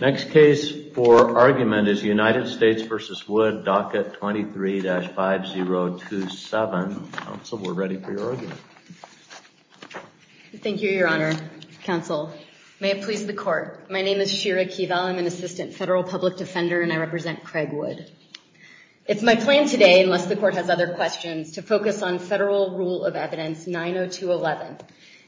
Next case for argument is United States v. Wood, docket 23-5027. Council, we're ready for your argument. Thank you, Your Honor. Council, may it please the court. My name is Shira Keevel. I'm an assistant federal public defender and I represent Craig Wood. It's my plan today, unless the court has other questions, to focus on federal rule of evidence 90211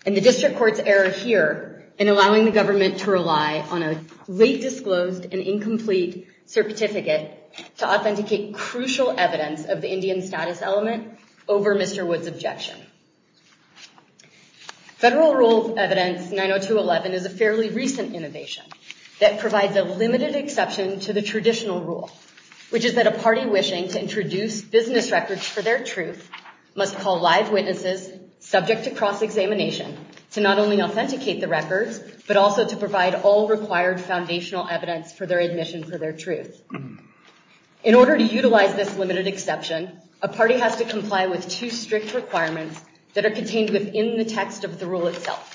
and the district court's error here in allowing the government to rely on a late disclosed and incomplete certificate to authenticate crucial evidence of the Indian status element over Mr. Wood's objection. Federal rule evidence 90211 is a fairly recent innovation that provides a limited exception to the traditional rule, which is that a party wishing to introduce business records for their truth must call live witnesses subject to cross-examination to not only authenticate the records, but also to provide all required foundational evidence for their admission for their truth. In order to utilize this limited exception, a party has to comply with two strict requirements that are contained within the text of the rule itself.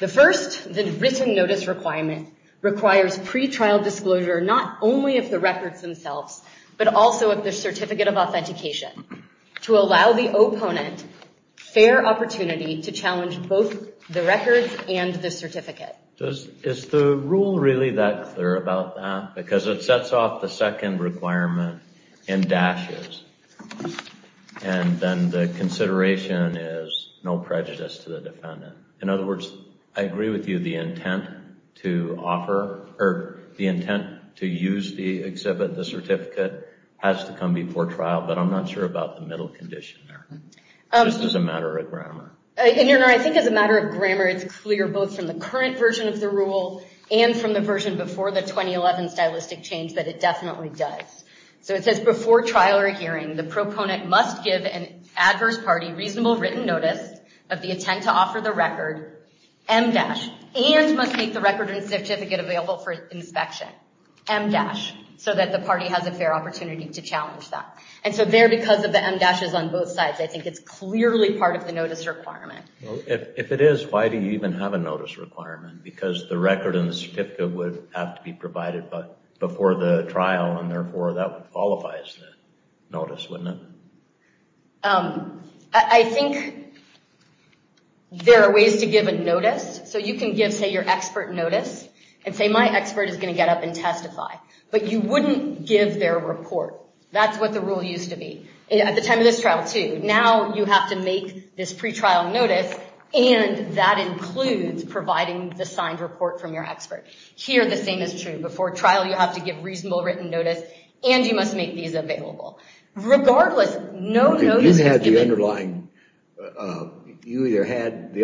The first, the written notice requirement, requires pretrial disclosure not only of the records themselves, but also of the certificate of authentication to allow the opponent fair opportunity to challenge both the records and the certificate. Is the rule really that clear about that? Because it sets off the second requirement in dashes, and then the consideration is no prejudice to the defendant. In other words, I agree with you the intent to offer, or the intent to use the exhibit, the certificate, has to come before trial, but I'm not sure about the middle condition there, just as a matter of grammar. In your honor, I think as a matter of grammar, it's clear both from the current version of the rule, and from the version before the 2011 stylistic change, that it definitely does. So it says before trial or hearing, the proponent must give an adverse party reasonable written notice of the intent to offer the record, M-dash, and must make the record and certificate available for inspection, M-dash, so that the party has a fair opportunity to challenge that. And so there, because of M-dashes on both sides, I think it's clearly part of the notice requirement. If it is, why do you even have a notice requirement? Because the record and the certificate would have to be provided before the trial, and therefore that qualifies the notice, wouldn't it? I think there are ways to give a notice. So you can give, say, your expert notice, and say my expert is going to get up and testify, but you wouldn't give their report. That's what the rule used to be. At the time of this trial, too. Now you have to make this pre-trial notice, and that includes providing the signed report from your expert. Here, the same is true. Before trial, you have to give reasonable written notice, and you must make these available. Regardless, no notice... You had the underlying, you either had the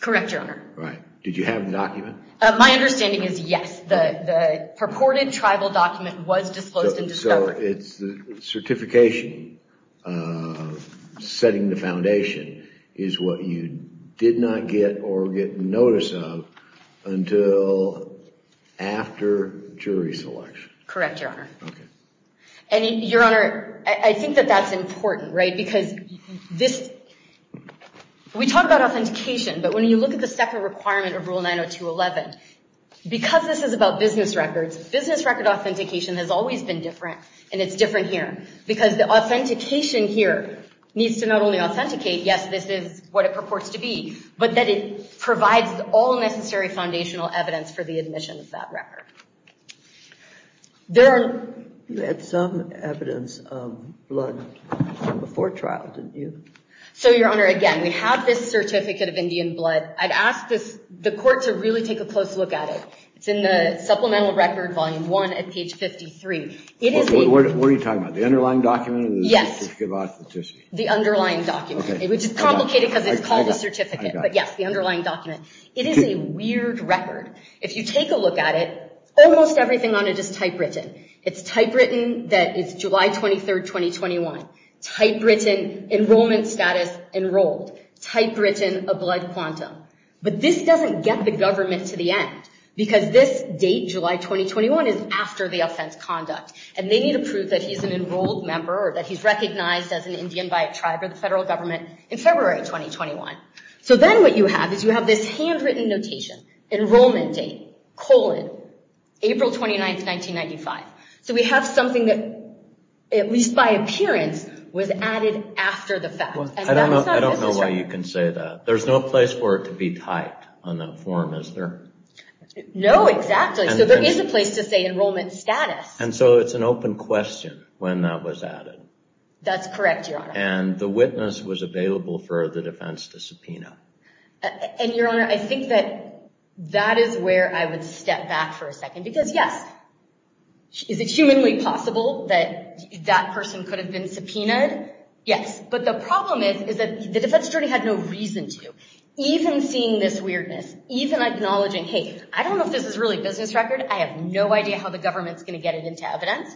correct, your honor. Right. Did you have the document? My understanding is yes. The purported tribal document was disclosed and discovered. So it's the certification setting the foundation is what you did not get or get notice of until after jury selection. Correct, your honor. And your honor, I think that that's important, right, because this... We talked about authentication, but when you look at the second requirement of Rule 902.11, because this is about business records, business record authentication has always been different, and it's different here, because the authentication here needs to not only authenticate, yes, this is what it purports to be, but that it provides all necessary foundational evidence for the admission of that record. There are... You had some evidence of blood before trial, didn't you? So your honor, again, we have this certificate of Indian blood. I'd ask the court to really take a close look at it. It's in the Supplemental Record Volume 1 at page 53. What are you talking about, the underlying document? Yes, the underlying document, which is complicated because it's called a certificate, but yes, the underlying record, if you take a look at it, almost everything on it is typewritten. It's typewritten that it's July 23rd, 2021. Typewritten enrollment status, enrolled. Typewritten a blood quantum. But this doesn't get the government to the end, because this date, July 2021, is after the offense conduct, and they need to prove that he's an enrolled member or that he's recognized as an Indian by a tribe or the federal government in February 2021. So then what you have is you have this handwritten notation, enrollment date, colon, April 29th, 1995. So we have something that, at least by appearance, was added after the fact. I don't know why you can say that. There's no place for it to be typed on that form, is there? No, exactly. So there is a place to say enrollment status. And so it's an open question when that was added. That's correct, your honor. And the witness was I think that that is where I would step back for a second, because, yes, is it humanly possible that that person could have been subpoenaed? Yes. But the problem is, is that the defense attorney had no reason to. Even seeing this weirdness, even acknowledging, hey, I don't know if this is really business record. I have no idea how the government's going to get it into evidence.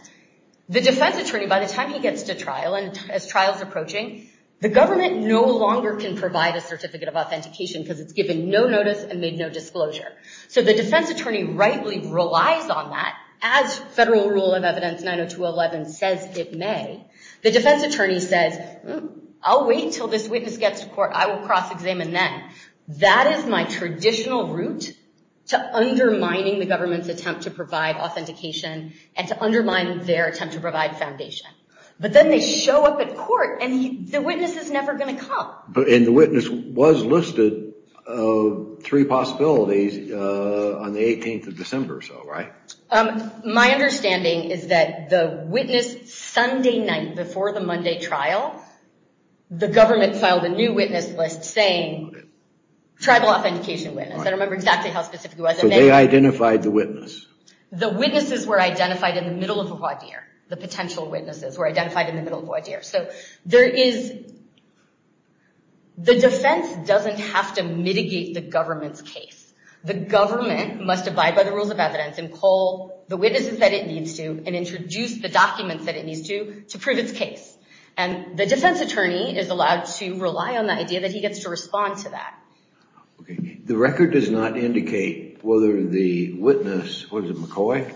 The defense attorney, by the time he gets to trial, and as trial is approaching, the government no longer can provide a certificate of authentication. They made no notice and made no disclosure. So the defense attorney rightly relies on that. As federal rule of evidence 90211 says it may, the defense attorney says, I'll wait until this witness gets to court. I will cross-examine then. That is my traditional route to undermining the government's attempt to provide authentication and to undermine their attempt to provide foundation. But then they show up at court and the witness is never going to come. And the witness was listed of three possibilities on the 18th of December or so, right? My understanding is that the witness, Sunday night before the Monday trial, the government filed a new witness list saying tribal authentication witness. I don't remember exactly how specific it was. So they identified the witness? The witnesses were identified in the middle of a wide year. The potential witnesses were identified in the middle of a wide year. So there is, the defense doesn't have to mitigate the government's case. The government must abide by the rules of evidence and call the witnesses that it needs to and introduce the documents that it needs to to prove its case. And the defense attorney is allowed to rely on the idea that he gets to respond to that. The record does not indicate whether the witness, was it McCoy?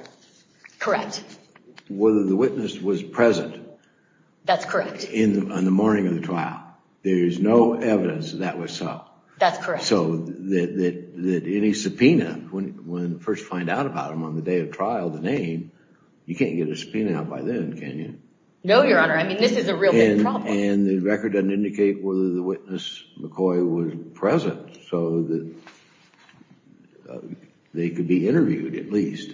Correct. Whether the witness was present? That's correct. On the morning of the trial. There's no evidence that that was so. That's correct. So that any subpoena, when first find out about him on the day of trial, the name, you can't get a subpoena out by then, can you? No, Your Honor. I mean, this is a real big problem. And the record doesn't indicate whether the witness, McCoy, was present so that they could be interviewed at least.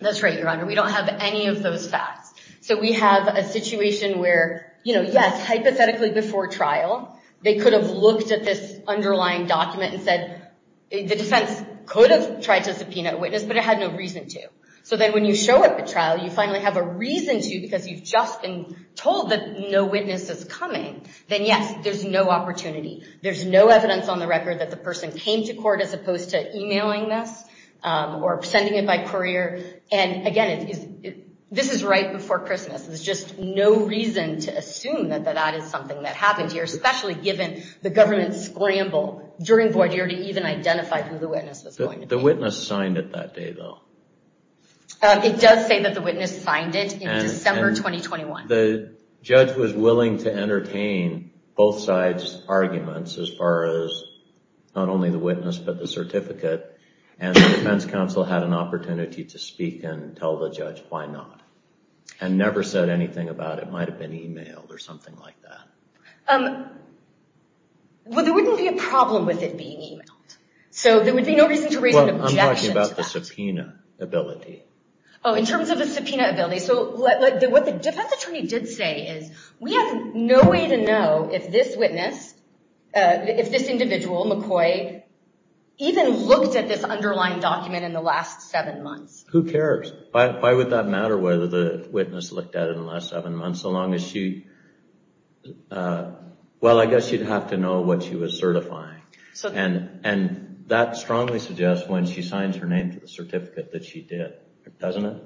That's right, Your Honor. We don't have any of those facts. So we have a situation where, you know, yes, hypothetically before trial, they could have looked at this underlying document and said, the defense could have tried to subpoena a witness, but it had no reason to. So then when you show up at trial, you finally have a reason to because you've just been told that no witness is coming, then yes, there's no opportunity. There's no evidence on the record that the person came to court as opposed to emailing this or sending it by courier. And again, this is right before Christmas. There's just no reason to assume that that is something that happened here, especially given the government's scramble during void year to even identify who the witness was going to be. The witness signed it that day, though. It does say that the witness signed it in December 2021. The judge was willing to entertain both sides' arguments as far as not only the witness, but the certificate. And the defense counsel had an opportunity to speak and tell the judge why not, and never said anything about it might have been emailed or something like that. Well, there wouldn't be a problem with it being emailed. So there would be no reason to raise an objection to that. Well, I'm talking about the subpoena ability. Oh, in terms of the subpoena ability. So what the defense attorney did say is, we have no way to know if this witness, if this individual, McCoy, even looked at this underlying document in the last seven months. Who cares? Why would that matter whether the witness looked at it in the last seven months, so long as she... Well, I guess you'd have to know what she was certifying. And that strongly suggests when she signs her name to the certificate that she did, doesn't it?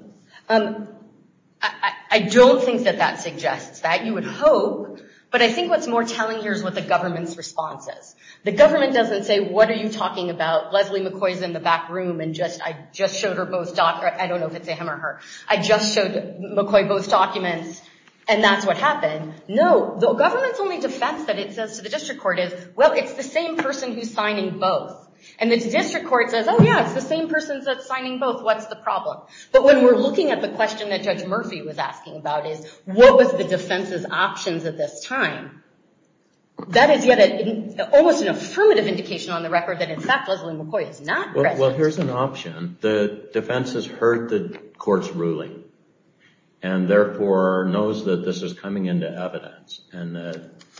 I don't think that that suggests that. You would hope. But I think what's more telling here is what the government's response is. The government doesn't say, what are you talking about? Leslie McCoy is in the back room and I just showed her both documents. I don't know if it's a him or her. I just showed McCoy both documents and that's what happened. No, the government's only defense that it says to the district court is, well, it's the same person who's signing both. And the district court says, oh yeah, it's the same person that's signing both. What's the problem? But when we're looking at the question that Judge Murphy was asking about is, what was the defense's options at this time? That is yet almost an affirmative indication on the record that in fact Leslie McCoy is not present. Well, here's an option. The defense has heard the court's ruling and therefore knows that this is coming into evidence. And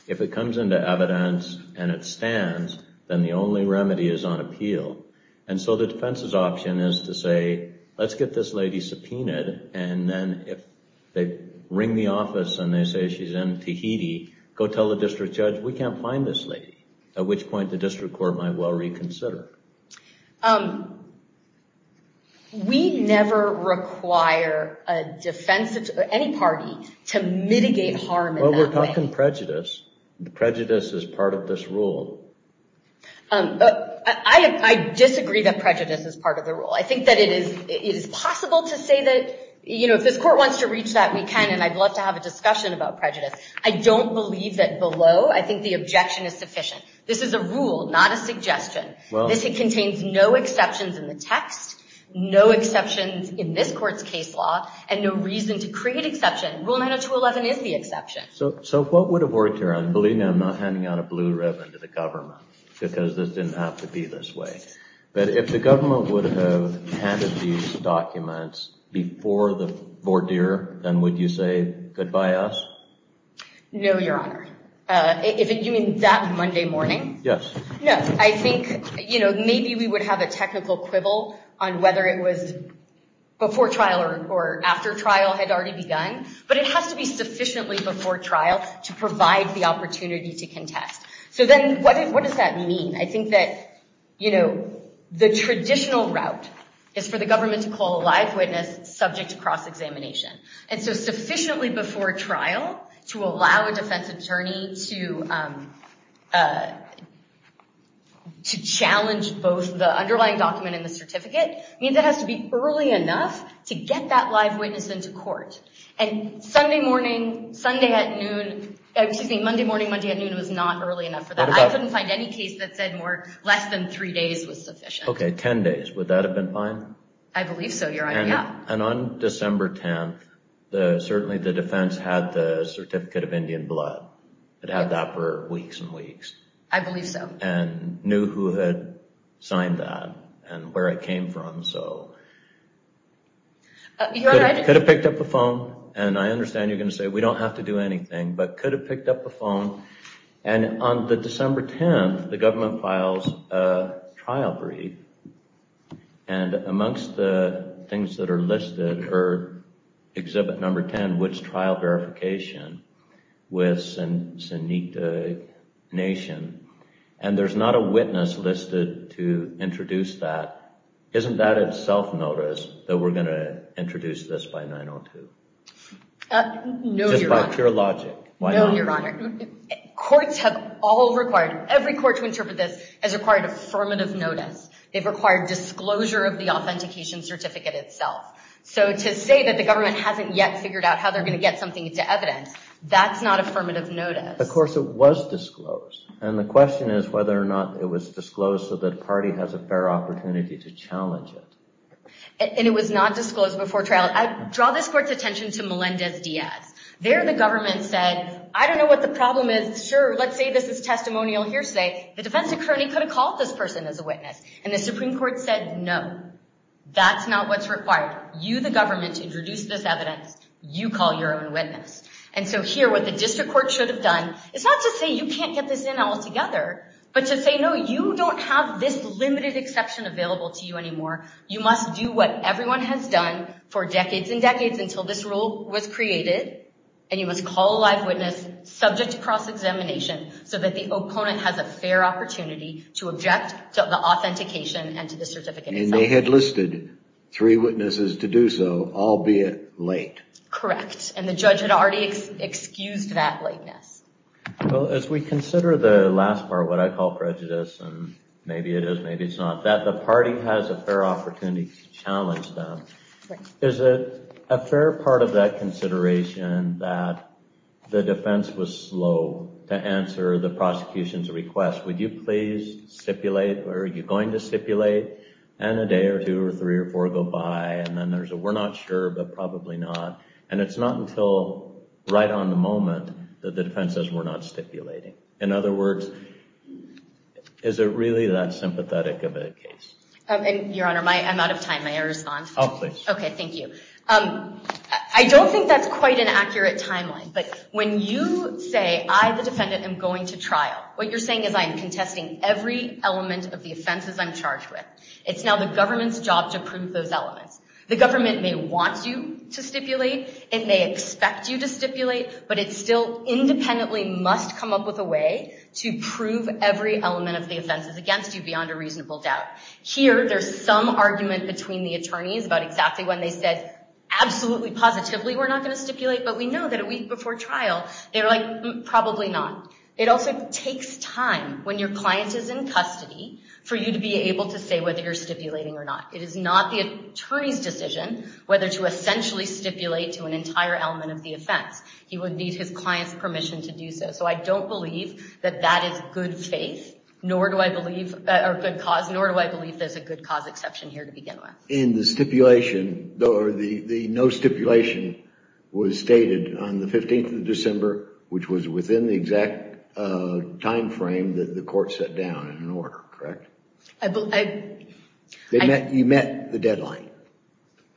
if it comes into evidence and it stands, then the only remedy is on appeal. And so the district court might say, let's get this lady subpoenaed. And then if they ring the office and they say she's in Tahiti, go tell the district judge, we can't find this lady. At which point the district court might well reconsider. We never require a defense of any party to mitigate harm in that way. Well, we're talking prejudice. Prejudice is part of this rule. I disagree that prejudice is part of the rule. I think that it is possible to say that, you know, if this court wants to reach that, we can, and I'd love to have a discussion about prejudice. I don't believe that below, I think the objection is sufficient. This is a rule, not a suggestion. This contains no exceptions in the text, no exceptions in this court's case law, and no reason to create exception. Rule 90211 is the exception. So what would have worked here? I'm believing I'm not handing out a blue ribbon to the government, because this didn't have to be this way. But if the government would have handed these documents before the voir dire, then would you say, goodbye us? No, your honor. You mean that Monday morning? Yes. No, I think, you know, maybe we would have a technical quibble on whether it was before trial or after trial had already begun. But it has to be So then what does that mean? I think that, you know, the traditional route is for the government to call a live witness subject to cross-examination. And so sufficiently before trial to allow a defense attorney to challenge both the underlying document and the certificate means it has to be early enough to get that live witness into court. And Sunday morning, Sunday at noon, excuse me, Monday morning, Monday at noon was not early enough for that. I couldn't find any case that said less than three days was sufficient. Okay, 10 days. Would that have been fine? I believe so, your honor, yeah. And on December 10th, certainly the defense had the Certificate of Indian Blood. It had that for weeks and weeks. I believe so. And knew who had signed that and where it came from. So could have picked up the phone, and I understand you're going to say we don't have to do anything, but could have picked up the phone. And on the December 10th, the government files a trial brief. And amongst the things that are listed are Exhibit Number 10, which trial verification with Sinitna Nation. And there's not a witness listed to introduce that. Isn't that a self-notice that we're going to introduce this by 9.02? No, your honor. By pure logic. No, your honor. Courts have all required, every court to interpret this has required affirmative notice. They've required disclosure of the authentication certificate itself. So to say that the government hasn't yet figured out how they're going to get something into evidence, that's not affirmative notice. Of course it was disclosed. And the question is whether or not it was disclosed so that a party has a fair opportunity to challenge it. And it was not disclosed before trial. Draw this court's attention to Melendez-Diaz. There, the government said, I don't know what the problem is. Sure, let's say this is testimonial hearsay. The defense attorney could have called this person as a witness. And the Supreme Court said, no, that's not what's required. You, the government, introduce this evidence. You call your own witness. And so here, what the district court should have done is not to say you can't get this in altogether, but to say, no, you don't have this limited exception available to you anymore. You must do what everyone has done for decades and decades until this rule was created. And you must call a live witness subject to cross-examination so that the opponent has a fair opportunity to object to the authentication and to the certificate itself. And they had listed three witnesses to do so, albeit late. Correct. And the judge had already excused that lateness. Well, as we consider the last part, what I call prejudice, and maybe it is, maybe it's not, that the party has a fair opportunity to challenge them, is it a fair part of that consideration that the defense was slow to answer the prosecution's request? Would you please stipulate, or are you going to stipulate? And a day or two or three or four go by, and then there's a we're not sure, but probably not. And it's not until right on the moment that the defense says we're not stipulating. In other words, is it really that sympathetic of a case? Your Honor, I'm out of time. My error is gone. Oh, please. Okay, thank you. I don't think that's quite an accurate timeline, but when you say, I, the defendant, am going to trial, what you're saying is I'm contesting every element of the offenses I'm charged with. It's now the government's job to prove those elements. The government may want you to stipulate, it may expect you to stipulate, but it still independently must come up with a way to prove every element of the offenses against you beyond a reasonable doubt. Here, there's some argument between the attorneys about exactly when they said, absolutely, positively, we're not going to stipulate, but we know that a week before trial, they were like, probably not. It also takes time when your client is in custody for you to be able to say whether you're stipulating or not. It is not the attorney's decision whether to essentially stipulate to an entire element of the offense. He would need his client's permission to do so. So I don't believe that that is good faith, nor do I believe, or good cause, nor do I believe there's a good cause exception here to begin with. In the stipulation, or the no stipulation was stated on the 15th of December, which was within the exact time frame that the court set down in an order, correct? You met the deadline.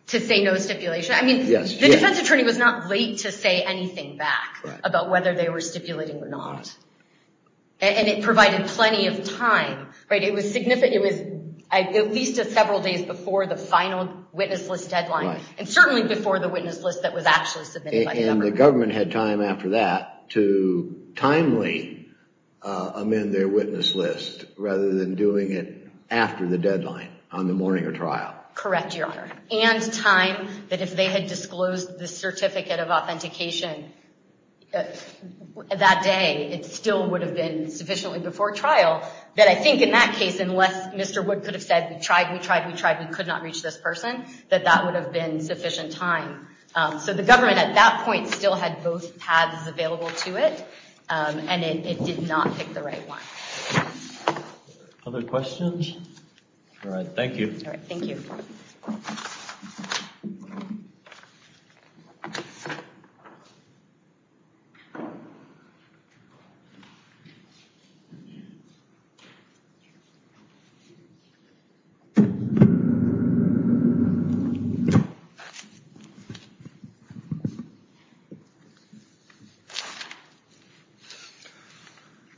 To say no stipulation? I mean, the defense attorney was not late to say anything back about whether they were stipulating or not. And it provided plenty of time, right? It was significant. It was at least several days before the final witness list deadline, and certainly before the witness list that was actually submitted by the government. And the government had time after that to timely amend their witness list, rather than doing it after the deadline on the morning of trial. Correct, Your Honor. And time that if they had disclosed the certificate of authentication that day, it still would have been sufficiently before trial, that I think in that case, unless Mr. Wood could have said, we tried, we tried, we tried, we could not reach this person, that that would have been sufficient time. So the government at that point still had both paths available to it, and it did not pick the right one. Other questions? All right. Thank you. All right. Thank you.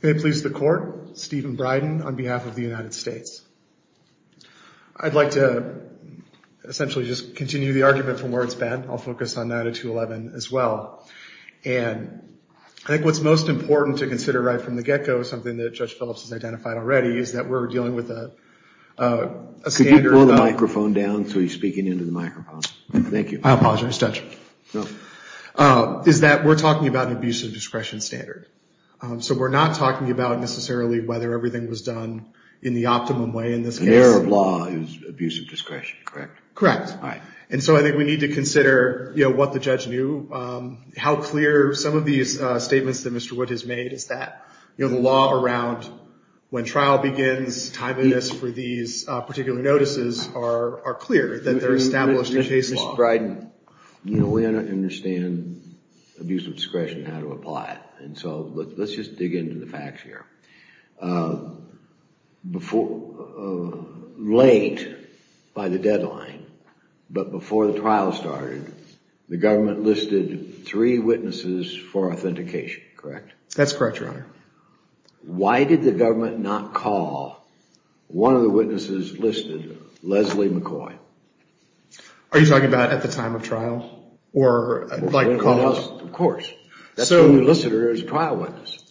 May it please the court, Stephen Bryden on behalf of the United States. I'd like to essentially just continue the argument from where it's bent. I'll focus on 902.11 as well. And I think what's most important to consider right from the get go, something that Judge Phillips has identified already, is that we're dealing with a standard. Could you pull the microphone down so he's speaking into the microphone? Thank you. I apologize, Judge. Is that we're talking about an abuse of discretion standard. So we're not talking about necessarily whether everything was done in the optimum way in this case. An error of law is abuse of discretion, correct? Correct. And so I think we need to consider what the judge knew, how clear some of these statements that Mr. Wood has made is that the law around when trial begins, timeliness for these particular notices are clear, that they're established in case law. Mr. Bryden, we understand abuse of discretion, how to apply it. And so let's just dig into the facts here. Before, late by the deadline, but before the trial started, the government listed three witnesses for authentication, correct? That's correct, Your Honor. Why did the government not call one of the witnesses listed, Leslie McCoy? Are you talking about at the time of trial? Or like call us? Of course. That's when we listed her as a trial witness.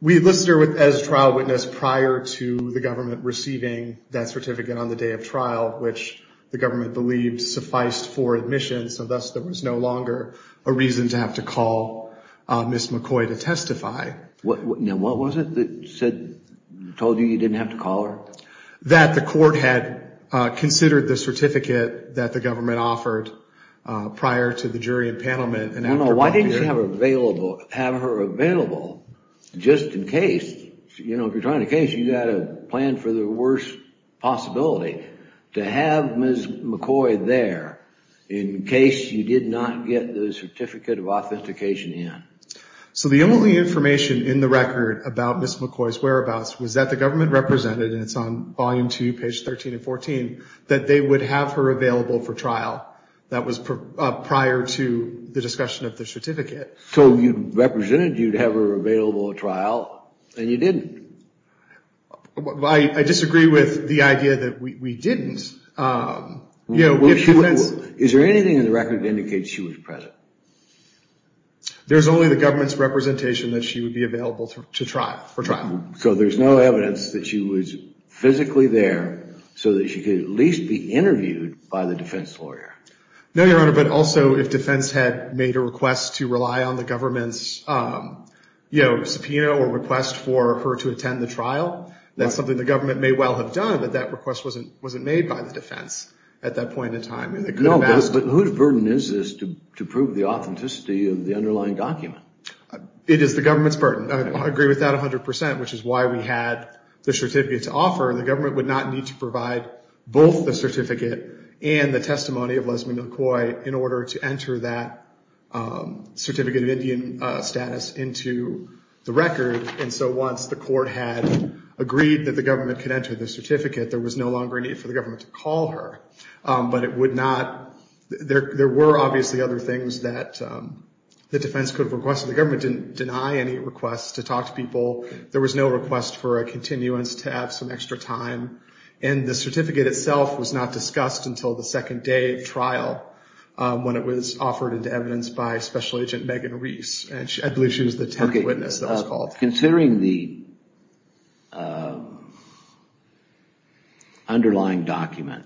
We listed her as a trial witness prior to the government receiving that certificate on the day of trial, which the government believed sufficed for admission. So thus, there was no longer a reason to have to call Ms. McCoy to testify. Now, what was it that said, told you you didn't have to call her? That the court had considered the certificate that the government offered prior to the jury and panelment. Why didn't you have her available just in case, you know, if you're trying to case, you got to plan for the worst possibility to have Ms. McCoy there in case you did not get the certificate of authentication in. So the only information in the record about Ms. McCoy's whereabouts was that the government represented, and it's on volume two, page 13 and 14, that they would have her available for trial. That was prior to the discussion of the certificate. So you'd represented, you'd have her available at trial and you didn't. I disagree with the idea that we didn't. Is there anything in the record that indicates she was present? There's only the government's representation that she would be available for trial. So there's no evidence that she was physically there so that she could at least be interviewed by the defense lawyer. No, Your Honor, but also if defense had made a request to rely on the government's, you know, subpoena or request for her to attend the trial, that's something the government may well have done, but that request wasn't wasn't made by the defense at that point in time. No, but whose burden is this to prove the authenticity of the underlying document? It is the government's burden. I agree with that 100%, which is why we had the certificate to offer. The government would not need to provide both the certificate and the testimony of Lesley McCoy in order to enter that certificate of Indian status into the record. And so once the court had agreed that the government could enter the certificate, there was no longer a need for the government to call her. But it would not. There were obviously other things that the defense could have requested. The government didn't deny any requests to talk to people. There was no request for a continuance to have some extra time. And the certificate itself was not discussed until the second day of trial when it was offered into evidence by Special Agent Megan Reese. And I believe she was the test witness that was called. Considering the underlying document,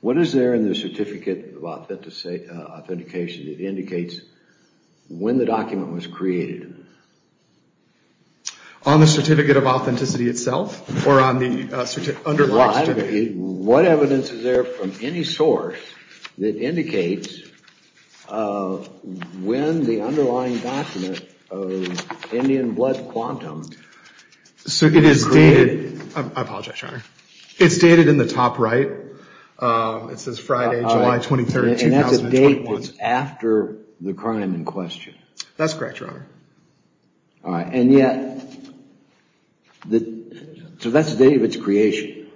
what is there in the certificate of authentication that indicates when the document was created? On the certificate of authenticity itself or on the certificate under the certificate? What evidence is there from any source that indicates when the underlying document of Indian blood quantum was created? So it is dated. I apologize, Your Honor. It's dated in the top right. It says Friday, July 23rd, 2020. And that's a date that's after the crime in question. That's correct, Your Honor. All right. And yet, so that's the date of its creation.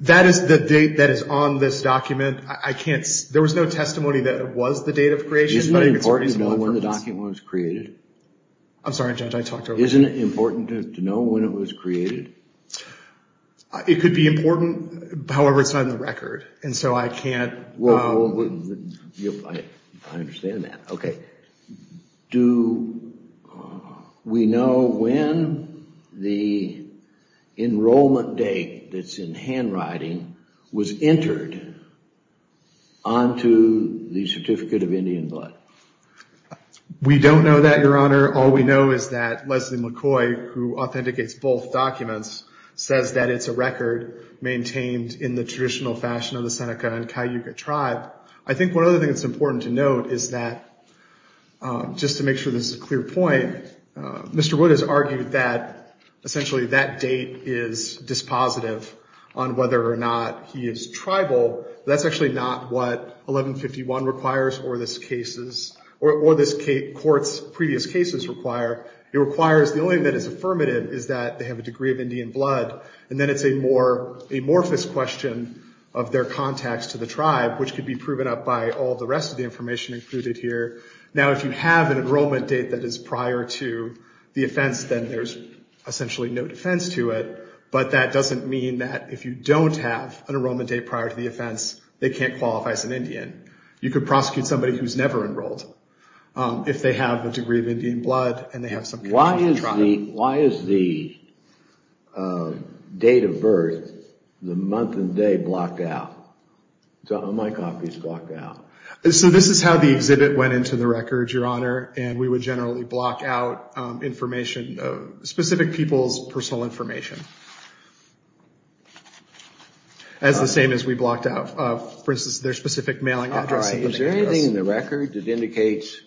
That is the date that is on this document. I can't, there was no testimony that it was the date of creation. Isn't it important to know when the document was created? I'm sorry, Judge, I talked over you. Isn't it important to know when it was created? It could be important. However, it's not in the record. And so I can't... Well, I understand that. OK. Do we know when the enrollment date that's in handwriting was entered onto the certificate of Indian blood? We don't know that, Your Honor. All we know is that Leslie McCoy, who authenticates both documents, says that it's a record maintained in the traditional fashion of the Seneca and Cayuga tribe. I think one other thing that's important to note is that, just to make sure this is a clear point, Mr. Wood has argued that essentially that date is dispositive on whether or not he is tribal. That's actually not what 1151 requires or this case's, or this court's previous cases require. It requires, the only thing that is affirmative is that they have a degree of Indian blood. And then it's a more amorphous question of their contacts to the tribe, which could be proven up by all the rest of the information included here. Now, if you have an enrollment date that is prior to the offense, then there's essentially no defense to it. But that doesn't mean that if you don't have an enrollment date prior to the offense, they can't qualify as an Indian. You could prosecute somebody who's never enrolled if they have a degree of Indian blood and they have some... Why is the date of birth, the month and day, blocked out? My copy is blocked out. So this is how the exhibit went into the record, Your Honor, and we would generally block out information, specific people's personal information. As the same as we blocked out, for instance, their specific mailing address. All right. Is there anything in the record that indicates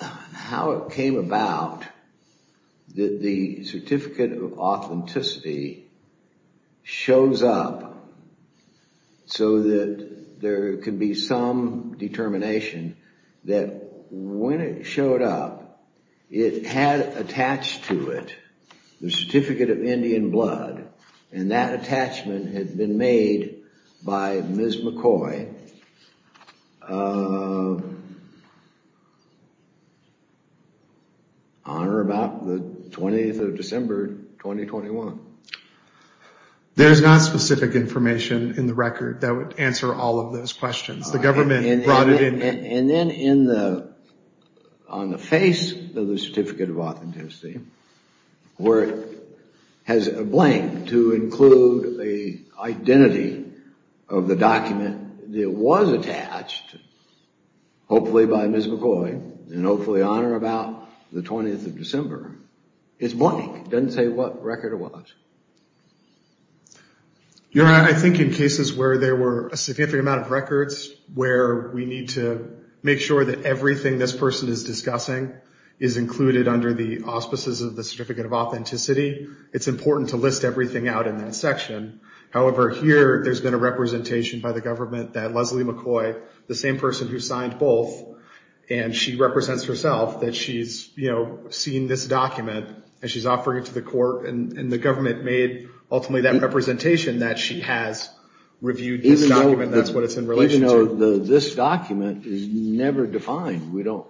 how it came about that the so that there can be some determination that when it showed up, it had attached to it the certificate of Indian blood and that attachment had been made by Ms. McCoy, Your Honor, about the 20th of December, 2021? There's not specific information in the record that would answer all of those questions. The government brought it in. And then on the face of the certificate of authenticity, where it has a blank to include the identity of the document that was attached, hopefully by Ms. McCoy and hopefully, Your Honor, about the 20th of December, it's blank, doesn't tell you what record it was. Your Honor, I think in cases where there were a significant amount of records where we need to make sure that everything this person is discussing is included under the auspices of the certificate of authenticity, it's important to list everything out in that section. However, here there's been a representation by the government that Leslie McCoy, the same person who signed both, and she represents herself, that she's seen this document and she's offering it to the court and the government made ultimately that representation that she has reviewed this document. That's what it's in relation to. Even though this document is never defined, do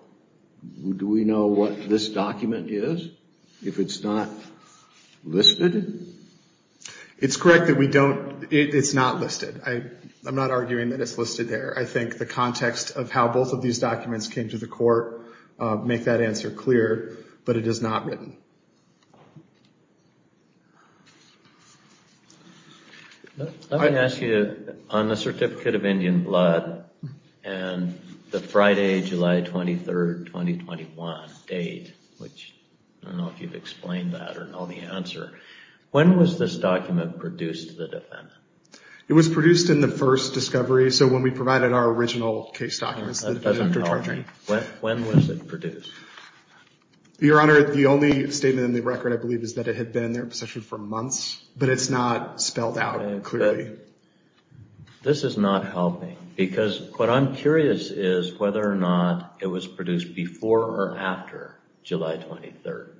we know what this document is if it's not listed? It's correct that it's not listed. I'm not arguing that it's listed there. I think the context of how both of these documents came to the court make that answer clear, but it is not written. Let me ask you, on the Certificate of Indian Blood and the Friday, July 23rd, 2021 date, which I don't know if you've explained that or know the answer, when was this document produced to the defendant? It was produced in the first discovery, so when we provided our original case documents to the defendant for charging. When was it produced? Your Honor, the only statement in the record, I believe, is that it had been in their possession for months, but it's not spelled out clearly. This is not helping, because what I'm curious is whether or not it was produced before or after July 23rd,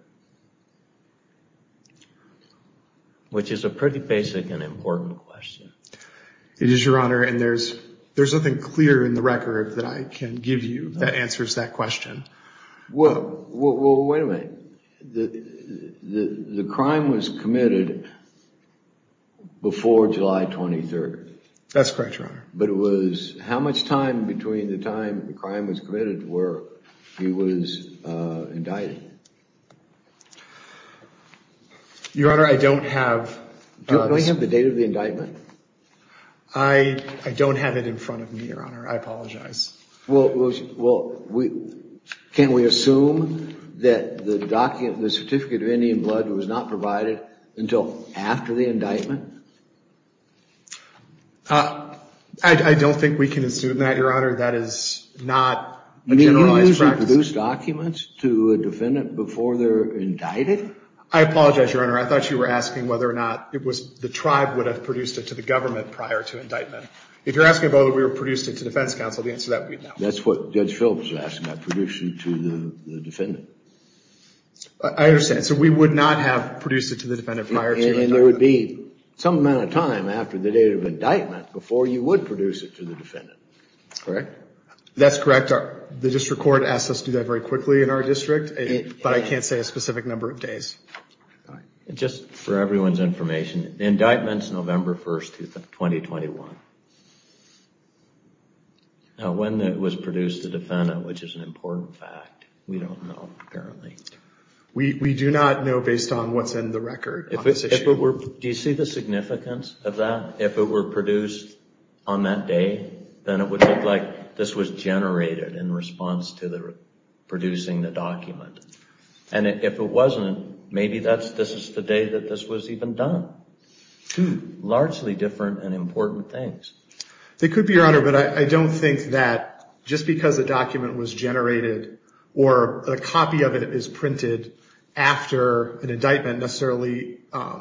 which is a pretty basic and important question. It is, Your Honor, and there's nothing clear in the record that I can give you that answers that question. Well, wait a minute. The crime was committed before July 23rd. That's correct, Your Honor. But it was, how much time between the time the crime was committed where he was indicted? Your Honor, I don't have- Do we have the date of the indictment? I don't have it in front of me, Your Honor. I apologize. Well, can we assume that the document, the certificate of Indian blood was not provided until after the indictment? I don't think we can assume that, Your Honor. That is not a generalized practice. Do you usually produce documents to a defendant before they're indicted? I apologize, Your Honor. I thought you were asking whether or not the tribe would have produced it to the government prior to indictment. If you're asking about whether we produced it to defense counsel, the answer to that would be no. That's what Judge Phillips was asking about, producing it to the defendant. I understand. So we would not have produced it to the defendant prior to indictment. And there would be some amount of time after the date of indictment before you would produce it to the defendant, correct? That's correct. The district court asked us to do that very quickly in our district, but I can't say a specific number of days. Just for everyone's information, the indictment's November 1st, 2021. Now, when it was produced to defendant, which is an important fact, we don't know currently. We do not know based on what's in the record on this issue. Do you see the significance of that? If it were produced on that day, then it would look like this was generated in response to producing the document. And if it wasn't, maybe this is the day that this was even done. Two largely different and important things. It could be, Your Honor, but I don't think that just because a document was generated or a copy of it is printed after an indictment necessarily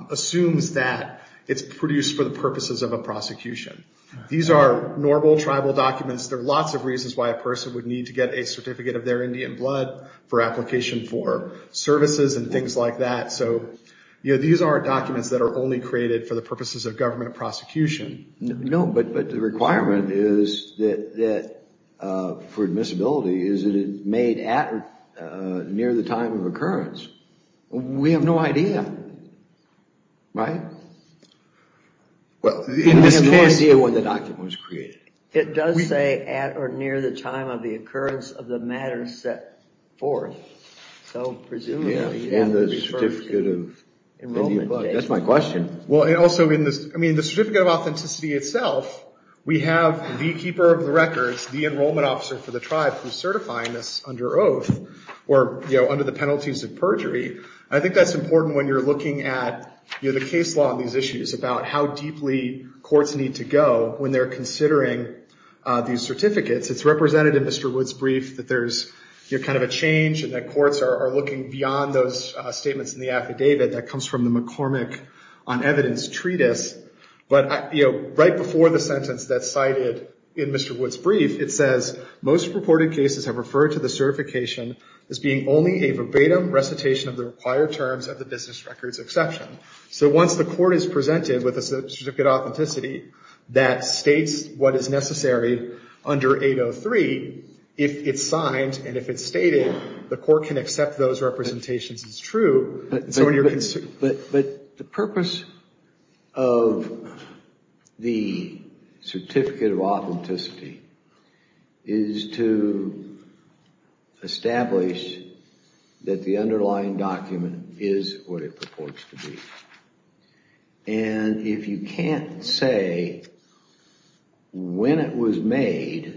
assumes that it's produced for the purposes of a prosecution. These are normal tribal documents. There are lots of reasons why a person would need to get a certificate of their Indian blood for application for services and things like that. So these are documents that are only created for the purposes of government prosecution. No, but the requirement for admissibility is that it's made at or near the time of occurrence. We have no idea, right? Well, in this case, we have no idea when the document was created. It does say at or near the time of the occurrence of the matter set forth. So presumably, it would refer to Indian blood. That's my question. Well, and also, I mean, the Certificate of Authenticity itself, we have the keeper of the records, the enrollment officer for the tribe who's certifying this under oath or under the penalties of perjury. I think that's important when you're looking at the case law on these issues about how deeply courts need to go when they're considering these certificates. It's represented in Mr. Wood's brief that there's kind of a change in that courts are looking beyond those statements in the affidavit that comes from the McCormick on Evidence Treatise. But right before the sentence that's cited in Mr. Wood's brief, it says, most reported cases have referred to the certification as being only a verbatim recitation of the required terms of the business records exception. So once the court is presented with a certificate of authenticity that states what is necessary under 803, if it's signed and if it's stated, the court can accept those representations as true. So when you're concerned. But the purpose of the Certificate of Authenticity is to establish that the underlying document is what it purports to be. And if you can't say when it was made,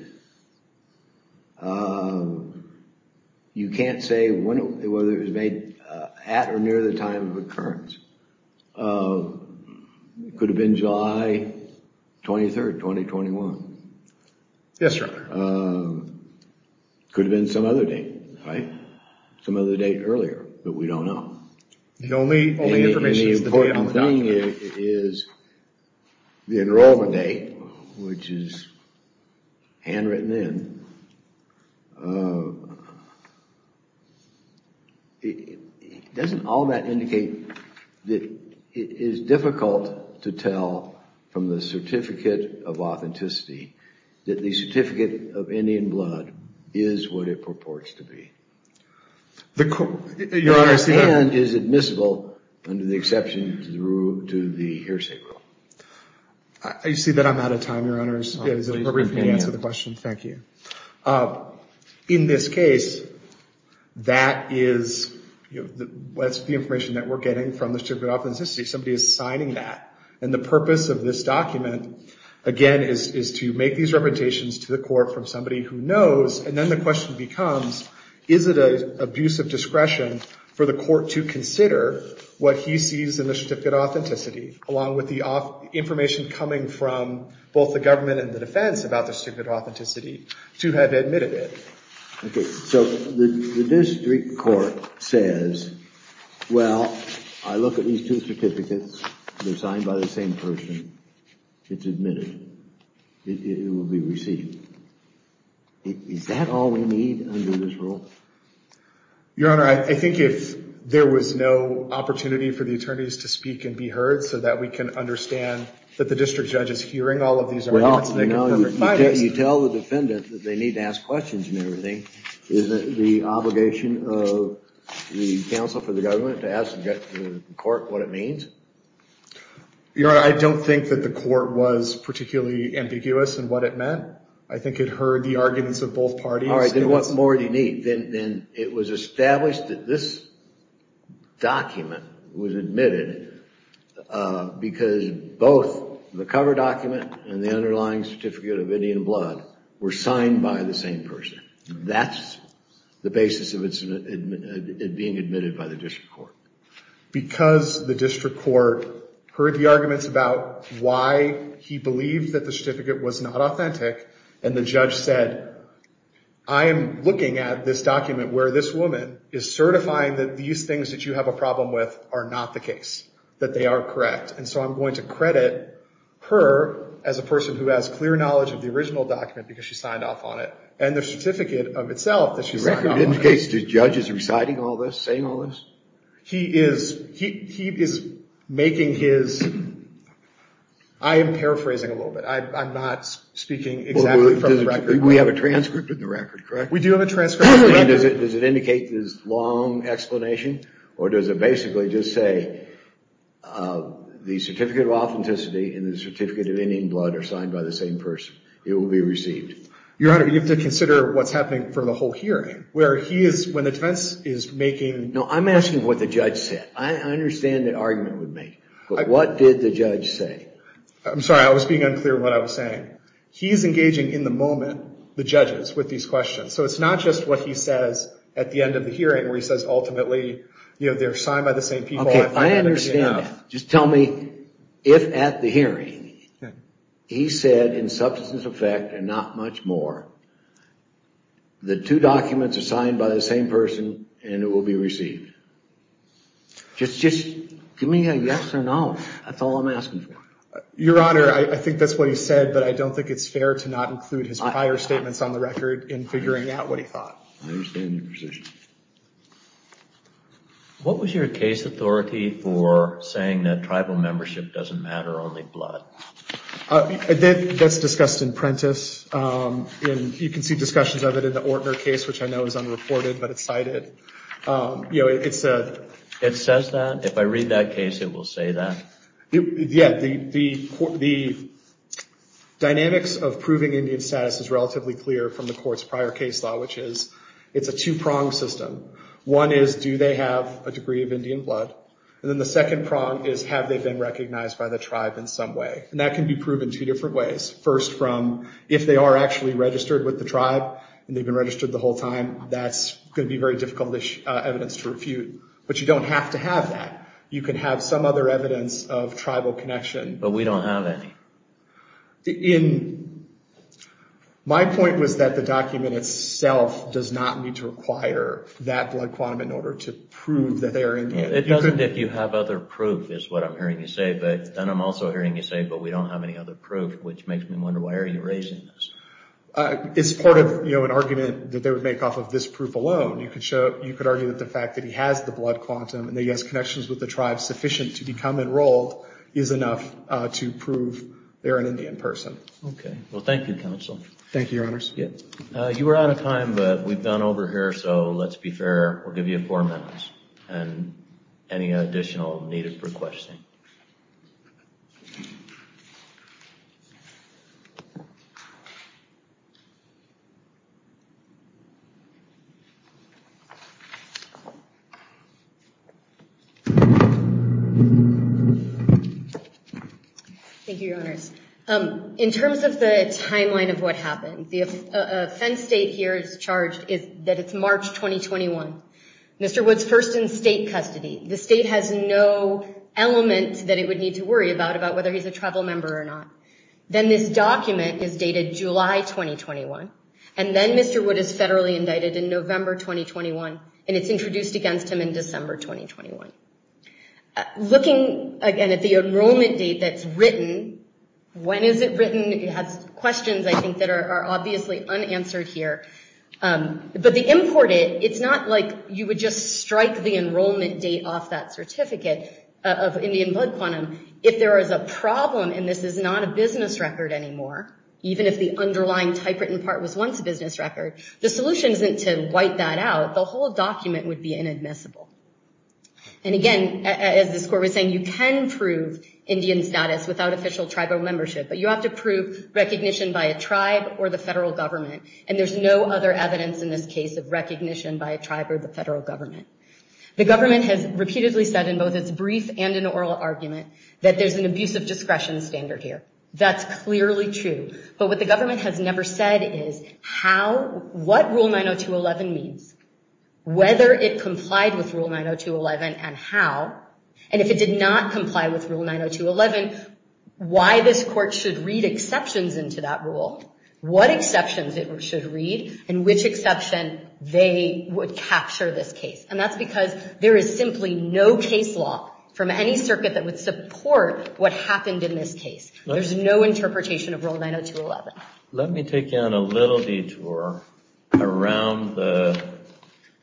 you can't say whether it was made at or near the time of occurrence. Could have been July 23rd, 2021. Yes, Your Honor. Could have been some other date, right? Some other date earlier, but we don't know. The only information is the date on the document. And the important thing is the enrollment date, which is handwritten in. Doesn't all that indicate that it is difficult to tell from the Certificate of Authenticity that the Certificate of Indian Blood is what it purports to be? Your Honor, I see that. And is admissible under the exception to the hearsay rule. I see that I'm out of time, Your Honors. Is it appropriate for me to answer the question? Thank you. In this case, that's the information that we're getting from the Certificate of Authenticity. Somebody is signing that. And the purpose of this document, again, is to make these representations to the court from somebody who knows. And then the question becomes, is it an abuse of discretion for the court to consider what he sees in the Certificate of Authenticity, along with the information coming from both the government and the defense about the Certificate of Authenticity, to have admitted it? So the district court says, well, I look at these two certificates. They're signed by the same person. It's admitted. It will be received. Is that all we need under this rule? Your Honor, I think if there was no opportunity for the attorneys to speak and be heard so that we can understand that the district judge is hearing all of these arguments and they can provide us. You tell the defendant that they need to ask questions and everything. Isn't it the obligation of the counsel for the government to ask the court what it means? Your Honor, I don't think that the court was particularly ambiguous in what it meant. I think it heard the arguments of both parties. All right, then what more do you need? Then it was established that this document was admitted because both the cover document and the underlying Certificate of Indian Blood were signed by the same person. That's the basis of it being admitted by the district court. Because the district court heard the arguments about why he believed that the certificate was not authentic, and the judge said, I am looking at this document where this woman is certifying that these things that you have a problem with are not the case, that they are correct. And so I'm going to credit her as a person who has clear knowledge of the original document, because she signed off on it, and the certificate of itself that she signed off on. Do you reckon it indicates the judge is reciting all this, saying all this? He is making his, I am paraphrasing a little bit. I'm not speaking exactly from the record. We have a transcript of the record, correct? We do have a transcript of the record. Does it indicate this long explanation, or does it basically just say the Certificate of Authenticity and the Certificate of Indian Blood are signed by the same person? It will be received. Your Honor, you have to consider what's happening for the whole hearing, where he is, when the defense is making. No, I'm asking what the judge said. I understand the argument would make, but what did the judge say? I'm sorry, I was being unclear what I was saying. He's engaging in the moment, the judges, with these questions. So it's not just what he says at the end of the hearing, where he says, ultimately, they're signed by the same people. OK, I understand that. Just tell me if at the hearing he said, in substance of fact and not much more, the two documents are signed by the same person and it will be received. Just give me a yes or no. That's all I'm asking for. Your Honor, I think that's what he said, but I don't think it's fair to not include his prior statements on the record in figuring out what he thought. I understand your position. What was your case authority for saying that tribal membership doesn't matter, only blood? That's discussed in Prentiss. And you can see discussions of it in the Ortner case, which I know is unreported, but it's cited. It says that? If I read that case, it will say that? Yeah, the dynamics of proving Indian status is relatively clear from the court's prior case law, which is, it's a two-pronged system. One is, do they have a degree of Indian blood? And then the second prong is, have they been recognized by the tribe in some way? And that can be proven two different ways. First, from if they are actually registered with the tribe that's going to be very difficult evidence to refute. But you don't have to have that. You can have some other evidence of tribal connection. But we don't have any. My point was that the document itself does not need to require that blood quantum in order to prove that they are Indian. It doesn't if you have other proof, is what I'm hearing you say. But then I'm also hearing you say, but we don't have any other proof, which makes me wonder, why are you raising this? It's part of an argument that they would make off of this proof alone. You could argue that the fact that he has the blood quantum and that he has connections with the tribe sufficient to become enrolled is enough to prove they're an Indian person. OK. Well, thank you, counsel. Thank you, your honors. You were out of time, but we've gone over here. So let's be fair. We'll give you four minutes. And any additional need for questioning? Thank you. Thank you, your honors. In terms of the timeline of what happened, the offense date here is charged that it's March 2021. Mr. Wood's first in state custody. The state has no element that it would need to worry about whether he's a tribal member or not. Then this document is dated July 2021. And then Mr. Wood is federally indicted in November 2021. And it's introduced against him in December 2021. Looking again at the enrollment date that's written, when is it written? It has questions, I think, that are obviously unanswered here. But the import, it's not like you would just strike the enrollment date off that certificate of Indian blood quantum. If there is a problem, and this is not a business record anymore, even if the underlying typewritten part was once a business record, the solution isn't to wipe that out. The whole document would be inadmissible. And again, as this court was saying, you can prove Indian status without official tribal membership. But you have to prove recognition by a tribe or the federal government. And there's no other evidence in this case of recognition by a tribe or the federal government. The government has repeatedly said in both its brief and an oral argument that there's an abuse of discretion standard here. That's clearly true. But what the government has never said is how, what Rule 902.11 means, whether it complied with Rule 902.11, and how, and if it did not comply with Rule 902.11, why this court should read exceptions into that rule, what exceptions it should read, and which exception they would capture this case. And that's because there is simply no case law from any circuit that would support what happened in this case. There's no interpretation of Rule 902.11. Let me take you on a little detour around the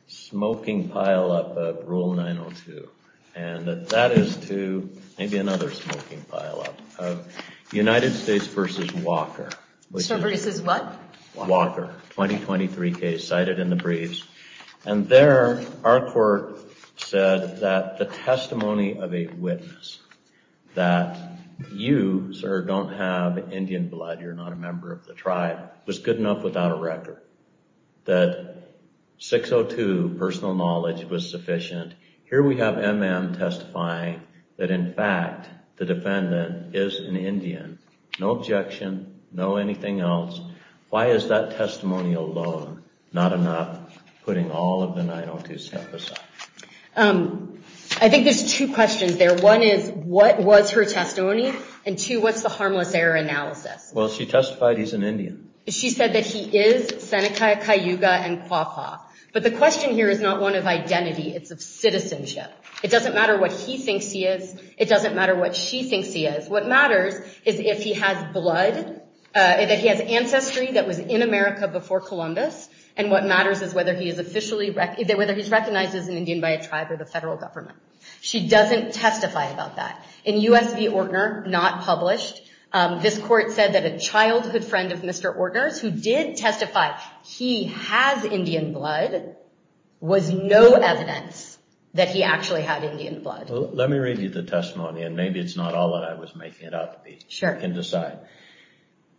smoking pileup of Rule 902. And that is to maybe another smoking pileup of United States versus Walker. So versus what? Walker, 2023 case cited in the briefs. And there, our court said that the testimony of a witness that you, sir, don't have Indian blood, you're not a member of the tribe, was good enough without a record. That 602, personal knowledge, was sufficient. Here we have MM testifying that, in fact, the defendant is an Indian. No objection, no anything else. Why is that testimony alone not enough, putting all of the 902 stuff aside? I think there's two questions there. One is, what was her testimony? And two, what's the harmless error analysis? Well, she testified he's an Indian. She said that he is Seneca, Cayuga, and Quapaw. But the question here is not one of identity. It's of citizenship. It doesn't matter what he thinks he is. It doesn't matter what she thinks he is. What matters is if he has blood, that he has ancestry that was in America before Columbus. And what matters is whether he's recognized as an Indian by a tribe or the federal government. She doesn't testify about that. In US v. Ortner, not published, this court said that a childhood friend of Mr. Ortner's, who did testify he has Indian blood, was no evidence that he actually had Indian blood. Let me read you the testimony. And maybe it's not all that I was making it up. Sure. You can decide.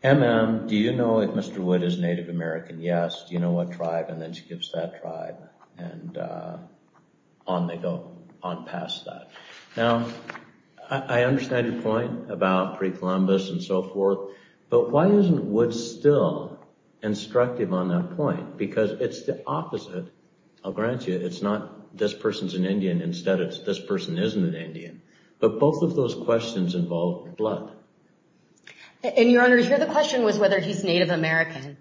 MM, do you know if Mr. Wood is Native American? Yes. Do you know what tribe? And then she gives that tribe. And on they go, on past that. Now, I understand your point about pre-Columbus and so forth. But why isn't Wood still instructive on that point? Because it's the opposite. I'll grant you, it's not this person's an Indian. Instead, it's this person isn't an Indian. But both of those questions involve blood. And Your Honor, here the question was whether he's Native American.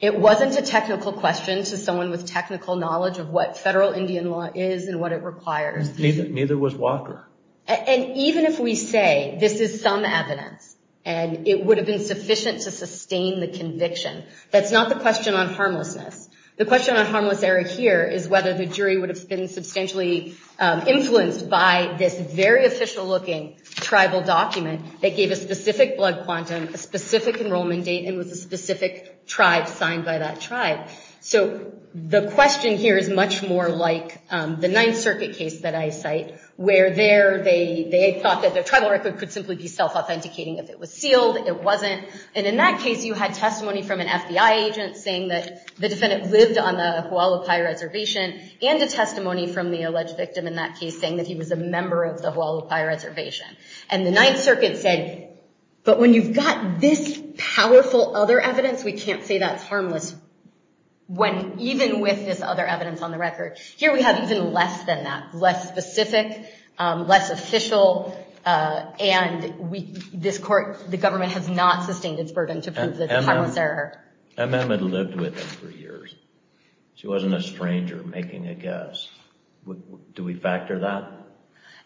It wasn't a technical question to someone with technical knowledge of what federal Indian law is and what it requires. Neither was Walker. And even if we say this is some evidence and it would have been sufficient to sustain the conviction, that's not the question on harmlessness. The question on harmless error here is whether the jury would have been substantially influenced by this very official looking tribal document that gave a specific blood quantum, a specific enrollment date, and with a specific tribe signed by that tribe. So the question here is much more like the Ninth Circuit case that I cite, where there they thought that the tribal record could simply be self-authenticating if it was sealed. It wasn't. And in that case, you had testimony from an FBI agent saying that the defendant lived on the Hualapai Reservation and a testimony from the alleged victim in that case saying that he was a member of the Hualapai Reservation. And the Ninth Circuit said, but when you've got this powerful other evidence, we can't say that's harmless. When even with this other evidence on the record, here we have even less than that, less specific, less official, and this court, the government has not sustained its burden to prove this harmless error. MM had lived with them for years. She wasn't a stranger making a guess. Do we factor that?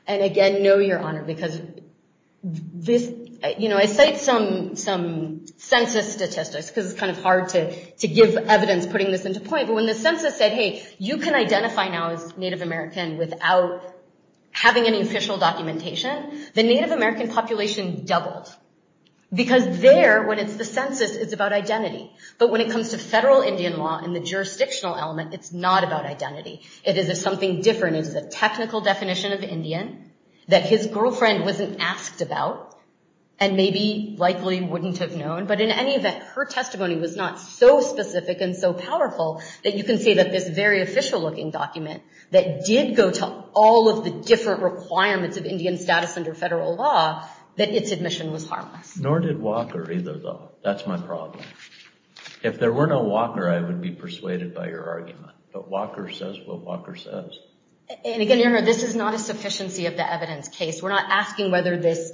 And again, no, Your Honor, because this, you know, I cite some census statistics, because it's kind of hard to give evidence putting this into point. But when the census said, hey, you can identify now as Native American without having any official documentation, the Native American population doubled. Because there, when it's the census, it's about identity. But when it comes to federal Indian law and the jurisdictional element, it's not about identity. It is something different. It is a technical definition of Indian that his girlfriend wasn't asked about, and maybe likely wouldn't have known. But in any event, her testimony was not so specific and so powerful that you can say that this very official-looking document that did go to all of the different requirements of Indian status under federal law, that its admission was harmless. Nor did Walker, either, though. That's my problem. If there were no Walker, I would be persuaded by your argument. But Walker says what Walker says. And again, Your Honor, this is not a sufficiency of the evidence case. We're not asking whether this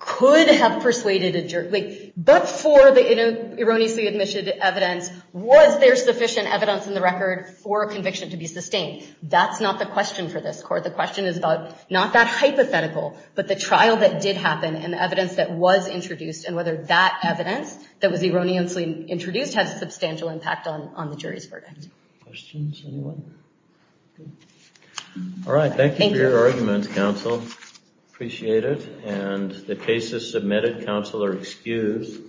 could have persuaded a jury. But for the erroneously-admitted evidence, was there sufficient evidence in the record for a conviction to be sustained? That's not the question for this court. The question is about not that hypothetical, but the trial that did happen and the evidence that was introduced, and whether that evidence that was erroneously introduced had substantial impact on the jury's verdict. Questions, anyone? All right. Thank you for your argument, counsel. Appreciate it. And the cases submitted, counsel, are excused.